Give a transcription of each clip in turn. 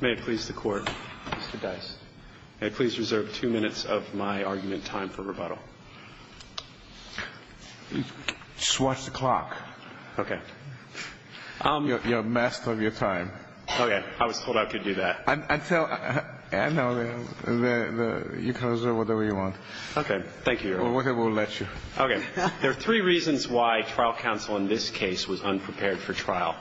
May it please the Court, Mr. Dice, may it please reserve two minutes of my argument time for rebuttal. Just watch the clock. Okay. You're a master of your time. Okay. I was told I could do that. I'd tell, I know, you can reserve whatever you want. Okay. Thank you, Your Honor. Or whatever will let you. Okay. There are three reasons why trial counsel in this case was unprepared for trial,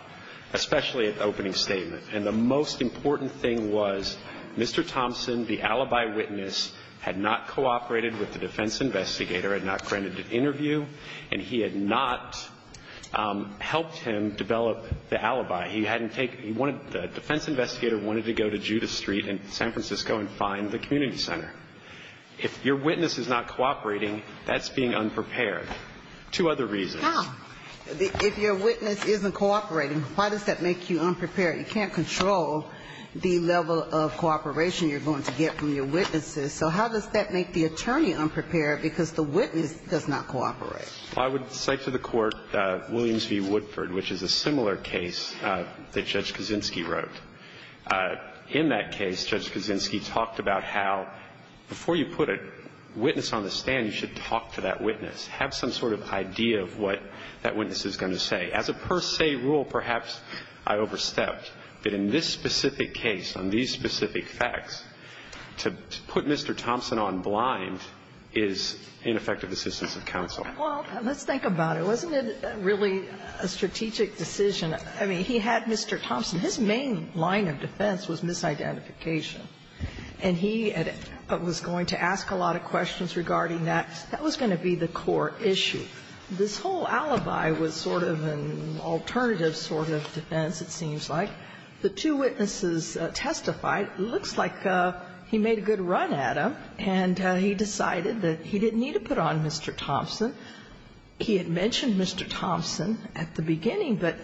especially at the opening statement. And the most important thing was Mr. Thompson, the alibi witness, had not cooperated with the defense investigator, had not granted an interview, and he had not helped him develop the alibi. He hadn't taken, he wanted, the defense investigator wanted to go to Judas Street in San Francisco and find the community center. If your witness is not cooperating, that's being unprepared. Two other reasons. Now, if your witness isn't cooperating, why does that make you unprepared? You can't control the level of cooperation you're going to get from your witnesses. So how does that make the attorney unprepared because the witness does not cooperate? I would cite to the Court Williams v. Woodford, which is a similar case that Judge Kaczynski wrote. In that case, Judge Kaczynski talked about how, before you put a witness on the stand, you should talk to that witness. Have some sort of idea of what that witness is going to say. As a per se rule, perhaps I overstepped. But in this specific case, on these specific facts, to put Mr. Thompson on blind is ineffective assistance of counsel. Well, let's think about it. Wasn't it really a strategic decision? I mean, he had Mr. Thompson. His main line of defense was misidentification. And he was going to ask a lot of questions regarding that. That was going to be the core issue. This whole alibi was sort of an alternative sort of defense, it seems like. The two witnesses testified. It looks like he made a good run at him, and he decided that he didn't need to put on Mr. Thompson. He had mentioned Mr. Thompson at the beginning, but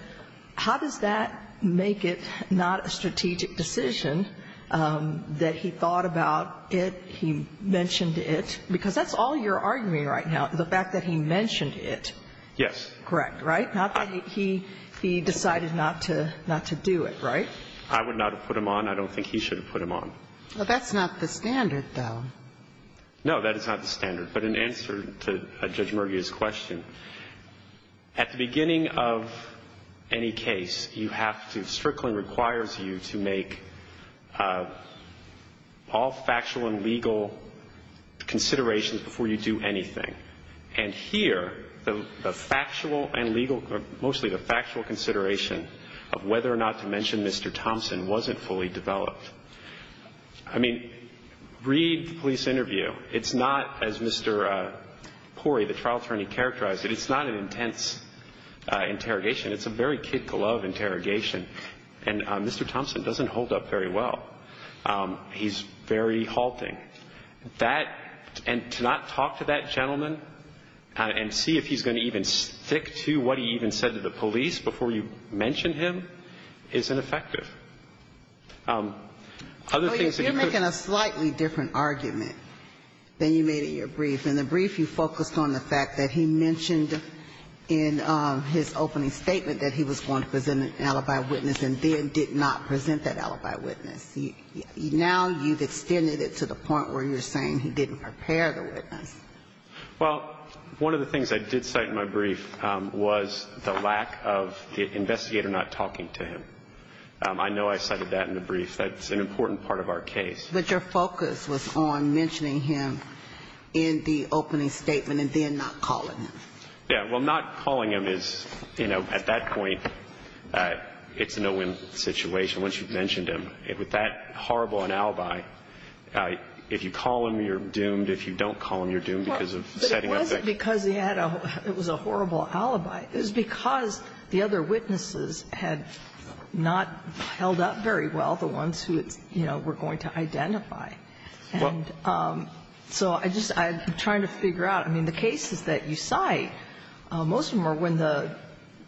how does that make it not a strategic decision that he thought about it, he mentioned it? Because that's all your argument right now, the fact that he mentioned it. Yes. Correct, right? Not that he decided not to do it, right? I would not have put him on. I don't think he should have put him on. Well, that's not the standard, though. No, that is not the standard. But in answer to Judge Murguia's question, at the beginning of any case, you have to – Strickland requires you to make all factual and legal considerations before you do anything. And here, the factual and legal – mostly the factual consideration of whether or not to mention Mr. Thompson wasn't fully developed. I mean, read the police interview. It's not, as Mr. Porey, the trial attorney, characterized it, it's not an intense interrogation. It's a very kid-glove interrogation. And Mr. Thompson doesn't hold up very well. He's very halting. That – and to not talk to that gentleman and see if he's going to even stick to what he even said to the police before you mention him is ineffective. Other things that you could – You made a slightly different argument than you made in your brief. In the brief, you focused on the fact that he mentioned in his opening statement that he was going to present an alibi witness and then did not present that alibi witness. Now you've extended it to the point where you're saying he didn't prepare the witness. Well, one of the things I did cite in my brief was the lack of the investigator not talking to him. I know I cited that in the brief. That's an important part of our case. But your focus was on mentioning him in the opening statement and then not calling him. Yeah. Well, not calling him is, you know, at that point, it's a no-win situation once you've mentioned him. With that horrible an alibi, if you call him, you're doomed. If you don't call him, you're doomed because of setting up that – Well, but it wasn't because he had a – it was a horrible alibi. It was because the other witnesses had not held up very well, the ones who, you know, were going to identify. And so I just – I'm trying to figure out. I mean, the cases that you cite, most of them are when the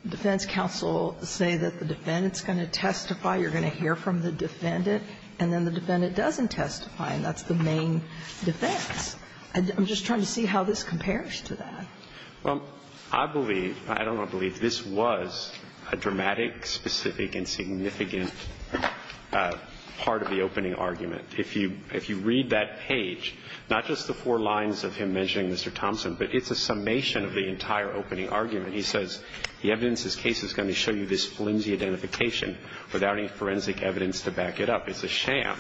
defense counsel say that the defendant's going to testify, you're going to hear from the defendant, and then the defendant doesn't testify, and that's the main defense. I'm just trying to see how this compares to that. Well, I believe – I don't want to believe – this was a dramatic, specific, and significant part of the opening argument. If you read that page, not just the four lines of him mentioning Mr. Thompson, but it's a summation of the entire opening argument. He says the evidence in this case is going to show you this flimsy identification without any forensic evidence to back it up. It's a sham.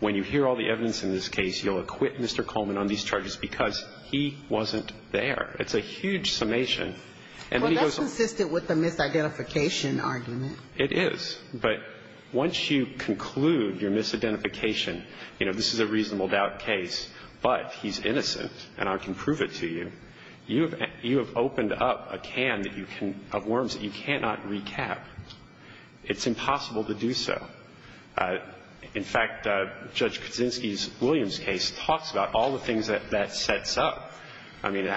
When you hear all the evidence in this case, you'll acquit Mr. Coleman on these charges because he wasn't there. It's a huge summation. And then he goes on. Well, that's consistent with the misidentification argument. It is. But once you conclude your misidentification, you know, this is a reasonable doubt case, but he's innocent, and I can prove it to you, you have opened up a can that you can – of worms that you cannot recap. It's impossible to do so. In fact, Judge Kaczynski's Williams case talks about all the things that that sets up. And we'll see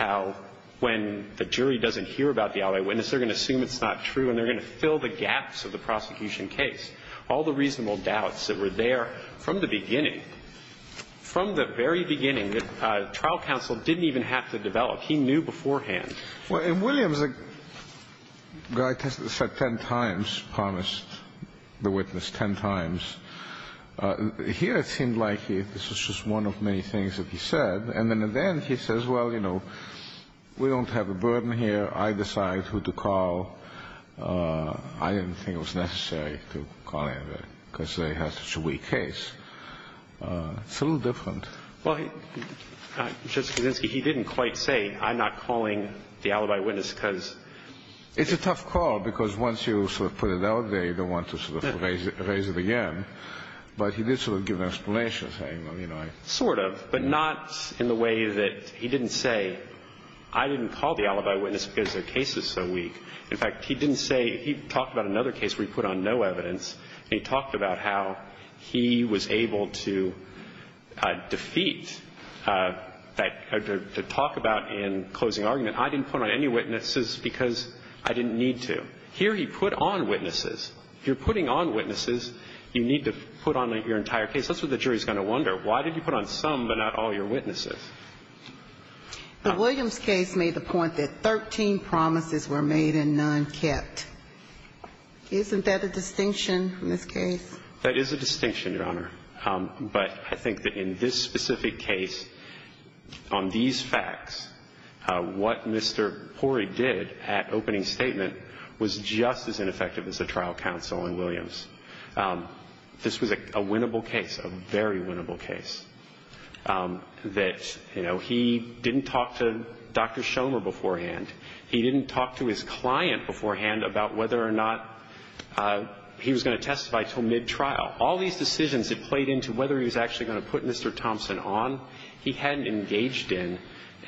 how, when the jury doesn't hear about the allied witness, they're going to assume it's not true, and they're going to fill the gaps of the prosecution case. All the reasonable doubts that were there from the beginning, from the very beginning, that trial counsel didn't even have to develop. He knew beforehand. Well, in Williams, a guy tested and said 10 times, promised the witness 10 times. Here, it seemed like this was just one of many things that he said. And then at the end, he says, well, you know, we don't have a burden here. I decide who to call. I didn't think it was necessary to call anybody, because they have such a weak case. It's a little different. Well, Justice Kuczynski, he didn't quite say, I'm not calling the alibi witness, because It's a tough call, because once you sort of put it out there, you don't want to sort of raise it again. But he did sort of give an explanation, saying, well, you know, I didn't call the alibi witness because their case is so weak. In fact, he didn't say he talked about another case where he put on no evidence, and he talked about how he was able to defeat that, to talk about in closing argument, I didn't put on any witnesses because I didn't need to. Here, he put on witnesses. If you're putting on witnesses, you need to put on your entire case. That's what the jury is going to wonder. Why did you put on some but not all your witnesses? The Williams case made the point that 13 promises were made and none kept. Isn't that a distinction in this case? That is a distinction, Your Honor. But I think that in this specific case, on these facts, what Mr. Pori did at opening this was a winnable case, a very winnable case, that, you know, he didn't talk to Dr. Shomer beforehand. He didn't talk to his client beforehand about whether or not he was going to testify until mid-trial. All these decisions that played into whether he was actually going to put Mr. Thompson on, he hadn't engaged in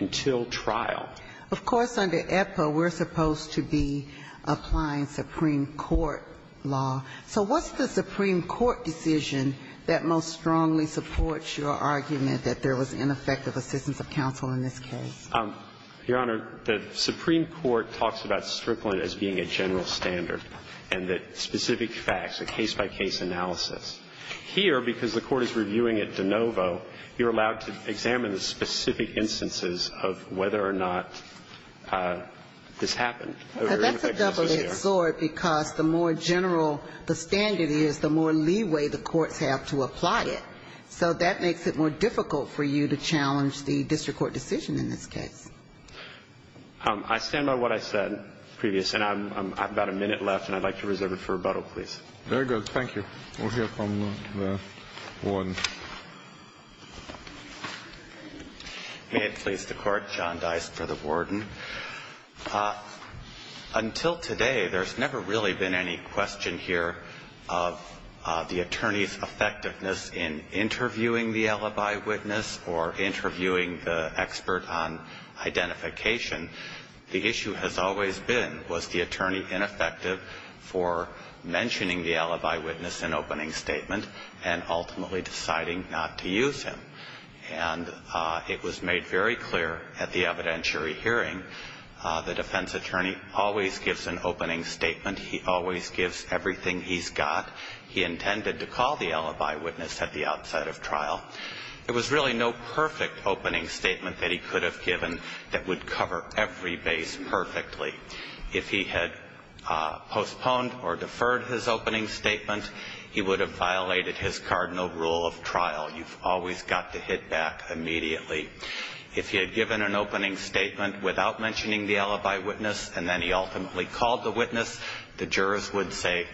until trial. Of course, under EPA, we're supposed to be applying Supreme Court law. So what's the Supreme Court decision that most strongly supports your argument that there was ineffective assistance of counsel in this case? Your Honor, the Supreme Court talks about Strickland as being a general standard and that specific facts, a case-by-case analysis. Here, because the Court is reviewing it de novo, you're allowed to examine the specific instances of whether or not this happened. And that's a double-edged sword because the more general the standard is, the more leeway the courts have to apply it. So that makes it more difficult for you to challenge the district court decision in this case. I stand by what I said previous, and I have about a minute left, and I'd like to reserve it for rebuttal, please. Very good. Thank you. We'll hear from the warden. May it please the Court, John Dice for the warden. Until today, there's never really been any question here of the attorney's effectiveness in interviewing the alibi witness or interviewing the expert on identification. The issue has always been, was the attorney ineffective for mentioning the alibi witness in opening statement and ultimately deciding not to use him? And it was made very clear at the evidentiary hearing, the defense attorney always gives an opening statement. He always gives everything he's got. He intended to call the alibi witness at the outside of trial. There was really no perfect opening statement that he could have given that would cover every base perfectly. If he had postponed or deferred his opening statement, he would have violated his cardinal rule of trial. You've always got to hit back immediately. If he had given an opening statement without mentioning the alibi witness, and then he ultimately called the witness, the jurors would say,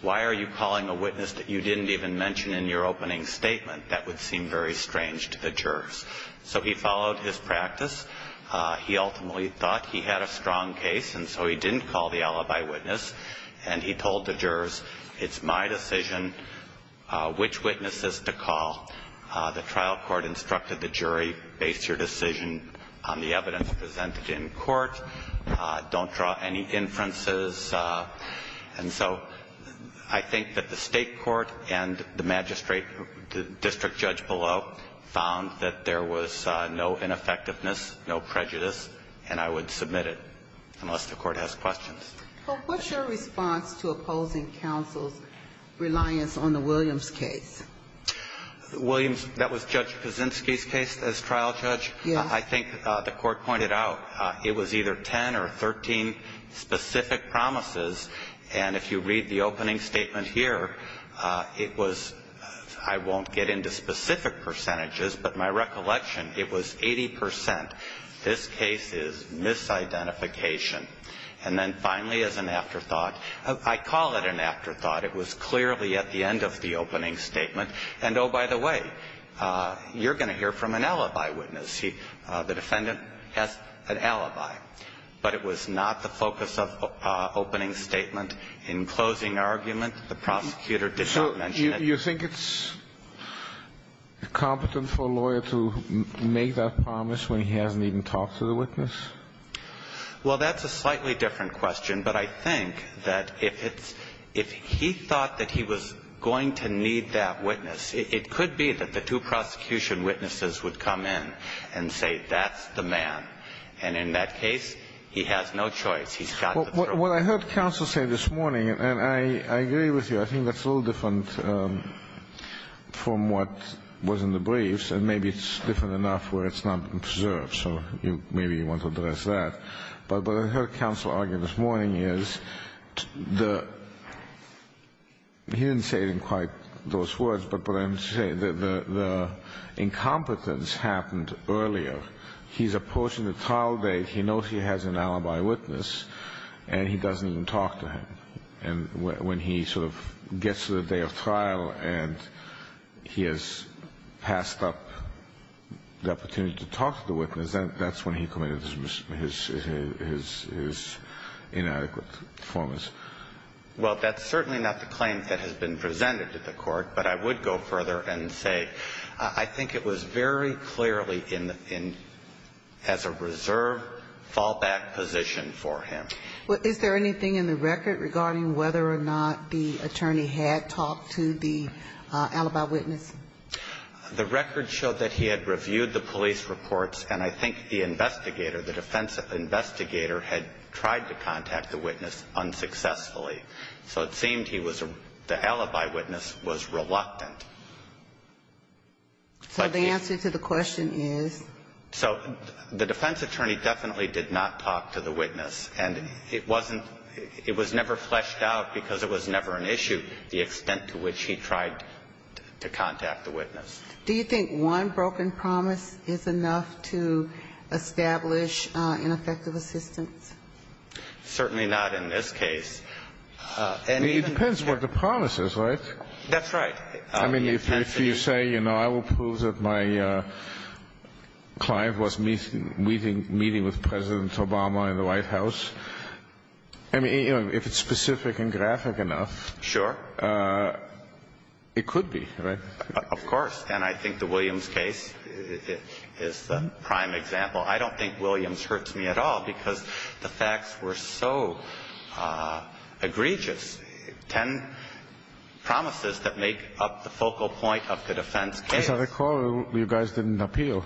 why are you calling a witness that you didn't even mention in your opening statement? That would seem very strange to the jurors. So he followed his practice. He ultimately thought he had a strong case, and so he didn't call the alibi witness. And he told the jurors, it's my decision which witnesses to call. The trial court instructed the jury, base your decision on the evidence presented in court. Don't draw any inferences. And so I think that the state court and the magistrate, the district judge below, found that there was no ineffectiveness, no prejudice, and I would submit it unless the court has questions. But what's your response to opposing counsel's reliance on the Williams case? Williams, that was Judge Kaczynski's case as trial judge. Yes. I think the court pointed out it was either 10 or 13 specific promises. And if you read the opening statement here, it was, I won't get into specific percentages, but my recollection, it was 80 percent. This case is misidentification. And then finally, as an afterthought, I call it an afterthought. It was clearly at the end of the opening statement. And, oh, by the way, you're going to hear from an alibi witness. The defendant has an alibi. But it was not the focus of opening statement. In closing argument, the prosecutor did not mention it. You think it's competent for a lawyer to make that promise when he hasn't even talked to the witness? Well, that's a slightly different question. But I think that if it's he thought that he was going to need that witness, it could be that the two prosecution witnesses would come in and say, that's the man. And in that case, he has no choice. He's got to prove it. Well, what I heard counsel say this morning, and I agree with you, I think that's a little different from what was in the briefs. And maybe it's different enough where it's not observed. So maybe you want to address that. But what I heard counsel argue this morning is the he didn't say it in quite those words, but what I'm saying, the incompetence happened earlier. He's approaching the trial date. He knows he has an alibi witness. And he doesn't even talk to him. And when he sort of gets to the day of trial and he has passed up the opportunity to talk to the witness, that's when he committed his inadequate performance. Well, that's certainly not the claim that has been presented to the Court. But I would go further and say I think it was very clearly in the end as a reserve fallback position for him. Well, is there anything in the record regarding whether or not the attorney had talked to the alibi witness? The record showed that he had reviewed the police reports, and I think the investigator, the defense investigator, had tried to contact the witness unsuccessfully. So it seemed he was the alibi witness was reluctant. So the answer to the question is? So the defense attorney definitely did not talk to the witness. And it wasn't – it was never fleshed out because it was never an issue, the extent to which he tried to contact the witness. Do you think one broken promise is enough to establish ineffective assistance? Certainly not in this case. I mean, it depends what the promise is, right? That's right. I mean, if you say, you know, I will prove that my client was meeting with President Obama in the White House, I mean, you know, if it's specific and graphic enough. Sure. It could be, right? Of course. And I think the Williams case is the prime example. I don't think Williams hurts me at all because the facts were so egregious. I mean, there's ten promises that make up the focal point of the defense case. As I recall, you guys didn't appeal.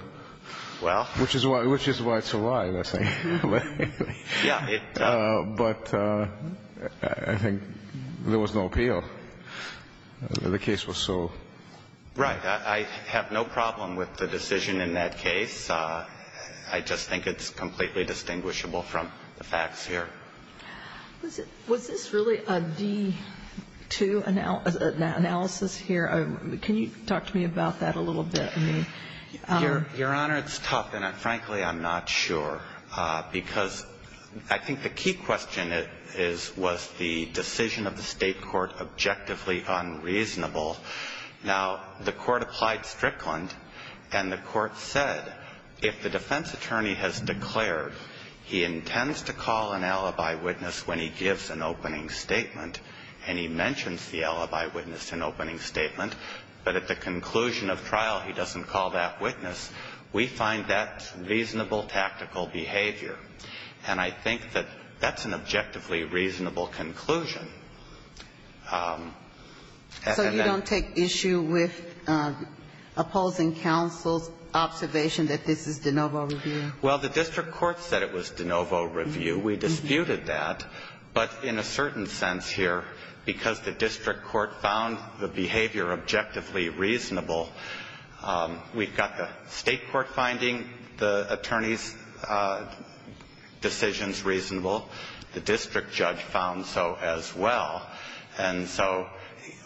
Well. Which is why it's a lie, I think. Yeah. But I think there was no appeal. The case was so. Right. I have no problem with the decision in that case. I just think it's completely distinguishable from the facts here. Was this really a D2 analysis here? Can you talk to me about that a little bit? I mean. Your Honor, it's tough, and frankly, I'm not sure. Because I think the key question is, was the decision of the State court objectively unreasonable? Now, the court applied Strickland, and the court said, if the defense attorney has declared he intends to call an alibi witness when he gives an opening statement and he mentions the alibi witness in opening statement, but at the conclusion of trial he doesn't call that witness, we find that reasonable tactical behavior. And I think that that's an objectively reasonable conclusion. So you don't take issue with opposing counsel's observation that this is de novo review? Well, the district court said it was de novo review. We disputed that. But in a certain sense here, because the district court found the behavior objectively reasonable, we've got the State court finding the attorney's decisions reasonable. The district judge found so as well. And so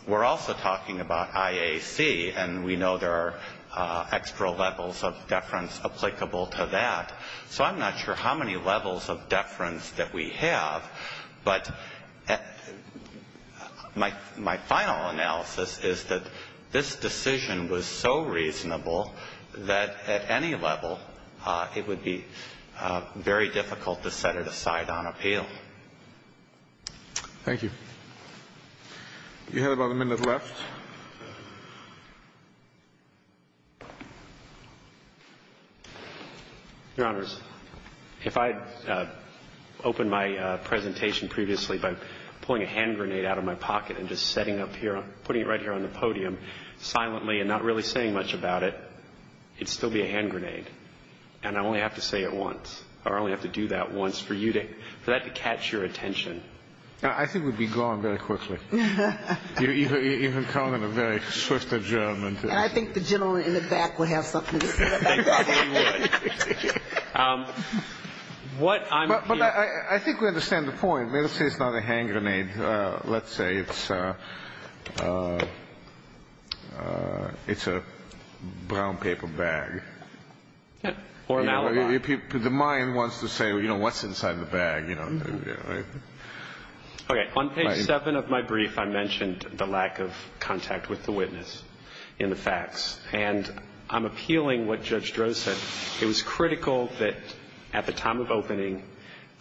we're also talking about IAC, and we know there are extra levels of deference applicable to that. So I'm not sure how many levels of deference that we have, but my final analysis is that this decision was so reasonable that at any level it would be very difficult to set it aside on appeal. Thank you. You have about a minute left. Your Honors, if I had opened my presentation previously by pulling a hand grenade out of my pocket and just setting up here, putting it right here on the podium silently and not really saying much about it, it would still be a hand grenade. And I only have to say it once, or I only have to do that once for you to capture your attention. I think we'd be gone very quickly. You can count on a very swift adjournment. And I think the gentleman in the back would have something to say about that. He would. But I think we understand the point. Let's say it's not a hand grenade. Let's say it's a brown paper bag. Or a Malabar. The mind wants to say, you know, what's inside the bag. Okay. On page 7 of my brief I mentioned the lack of contact with the witness in the facts. And I'm appealing what Judge Drozd said. It was critical that at the time of opening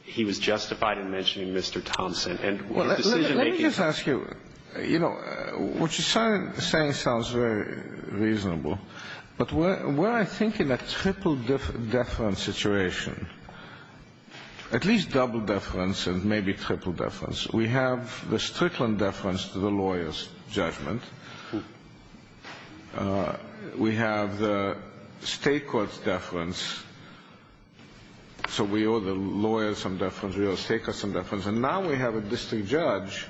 he was justified in mentioning Mr. Thompson. Let me just ask you, you know, what you're saying sounds very reasonable. But we're, I think, in a triple deference situation. At least double deference and maybe triple deference. We have the Strickland deference to the lawyer's judgment. We have the state court's deference. So we owe the lawyers some deference. We owe the state courts some deference. And now we have a district judge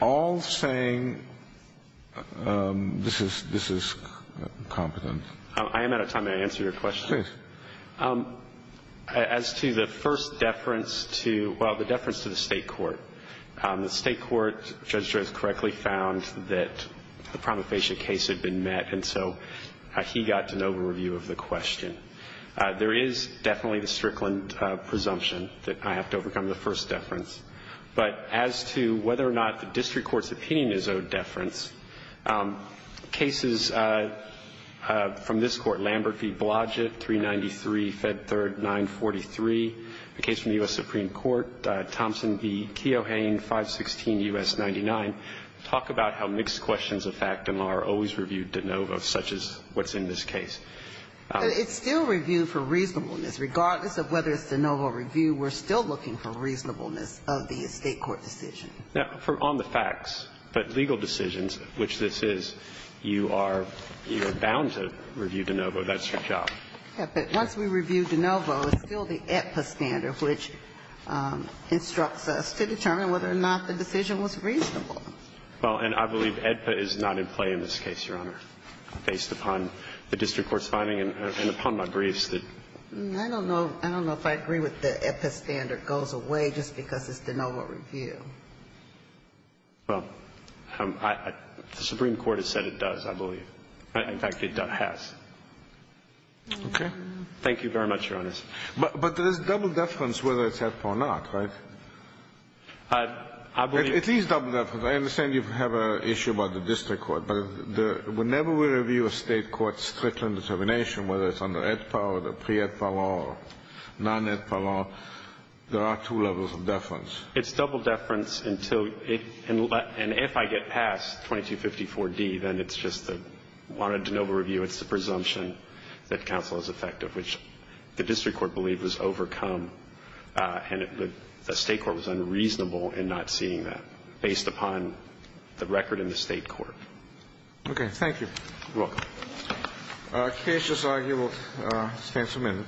all saying this is competent. I am out of time. May I answer your question? Please. As to the first deference to, well, the deference to the state court. The state court, Judge Drozd correctly found, that the promulgation case had been met. And so he got an overview of the question. There is definitely the Strickland presumption that I have to overcome the first deference. But as to whether or not the district court's opinion is owed deference, cases from this court, Lambert v. Blodgett, 393, Fed 3rd, 943. The case from the U.S. Supreme Court, Thompson v. Keohane, 516 U.S. 99, talk about how mixed questions of fact and law are always reviewed de novo, such as what's in this case. But it's still reviewed for reasonableness. Regardless of whether it's de novo review, we're still looking for reasonableness of the state court decision. Now, on the facts, but legal decisions, which this is, you are bound to review de novo. That's your job. Yes. But once we review de novo, it's still the AEDPA standard, which instructs us to determine whether or not the decision was reasonable. Well, and I believe AEDPA is not in play in this case, Your Honor, based upon the district court's finding and upon my briefs that ---- I don't know. I don't know if I agree with the AEDPA standard goes away just because it's de novo review. Well, the Supreme Court has said it does, I believe. In fact, it has. Okay. Thank you very much, Your Honors. But there's double deference whether it's AEDPA or not, right? I believe ---- At least double deference. I understand you have an issue about the district court. But whenever we review a state court's Strickland determination, whether it's under AEDPA or pre-AEDPA law or non-AEDPA law, there are two levels of deference. It's double deference until ---- and if I get past 2254d, then it's just the wanted de novo review, it's the presumption that counsel is effective, which the district court believed was overcome, and the state court was unreasonable in not seeing that based upon the record in the state court. Okay. Thank you. You're welcome. The case is argued. We'll stand for a minute.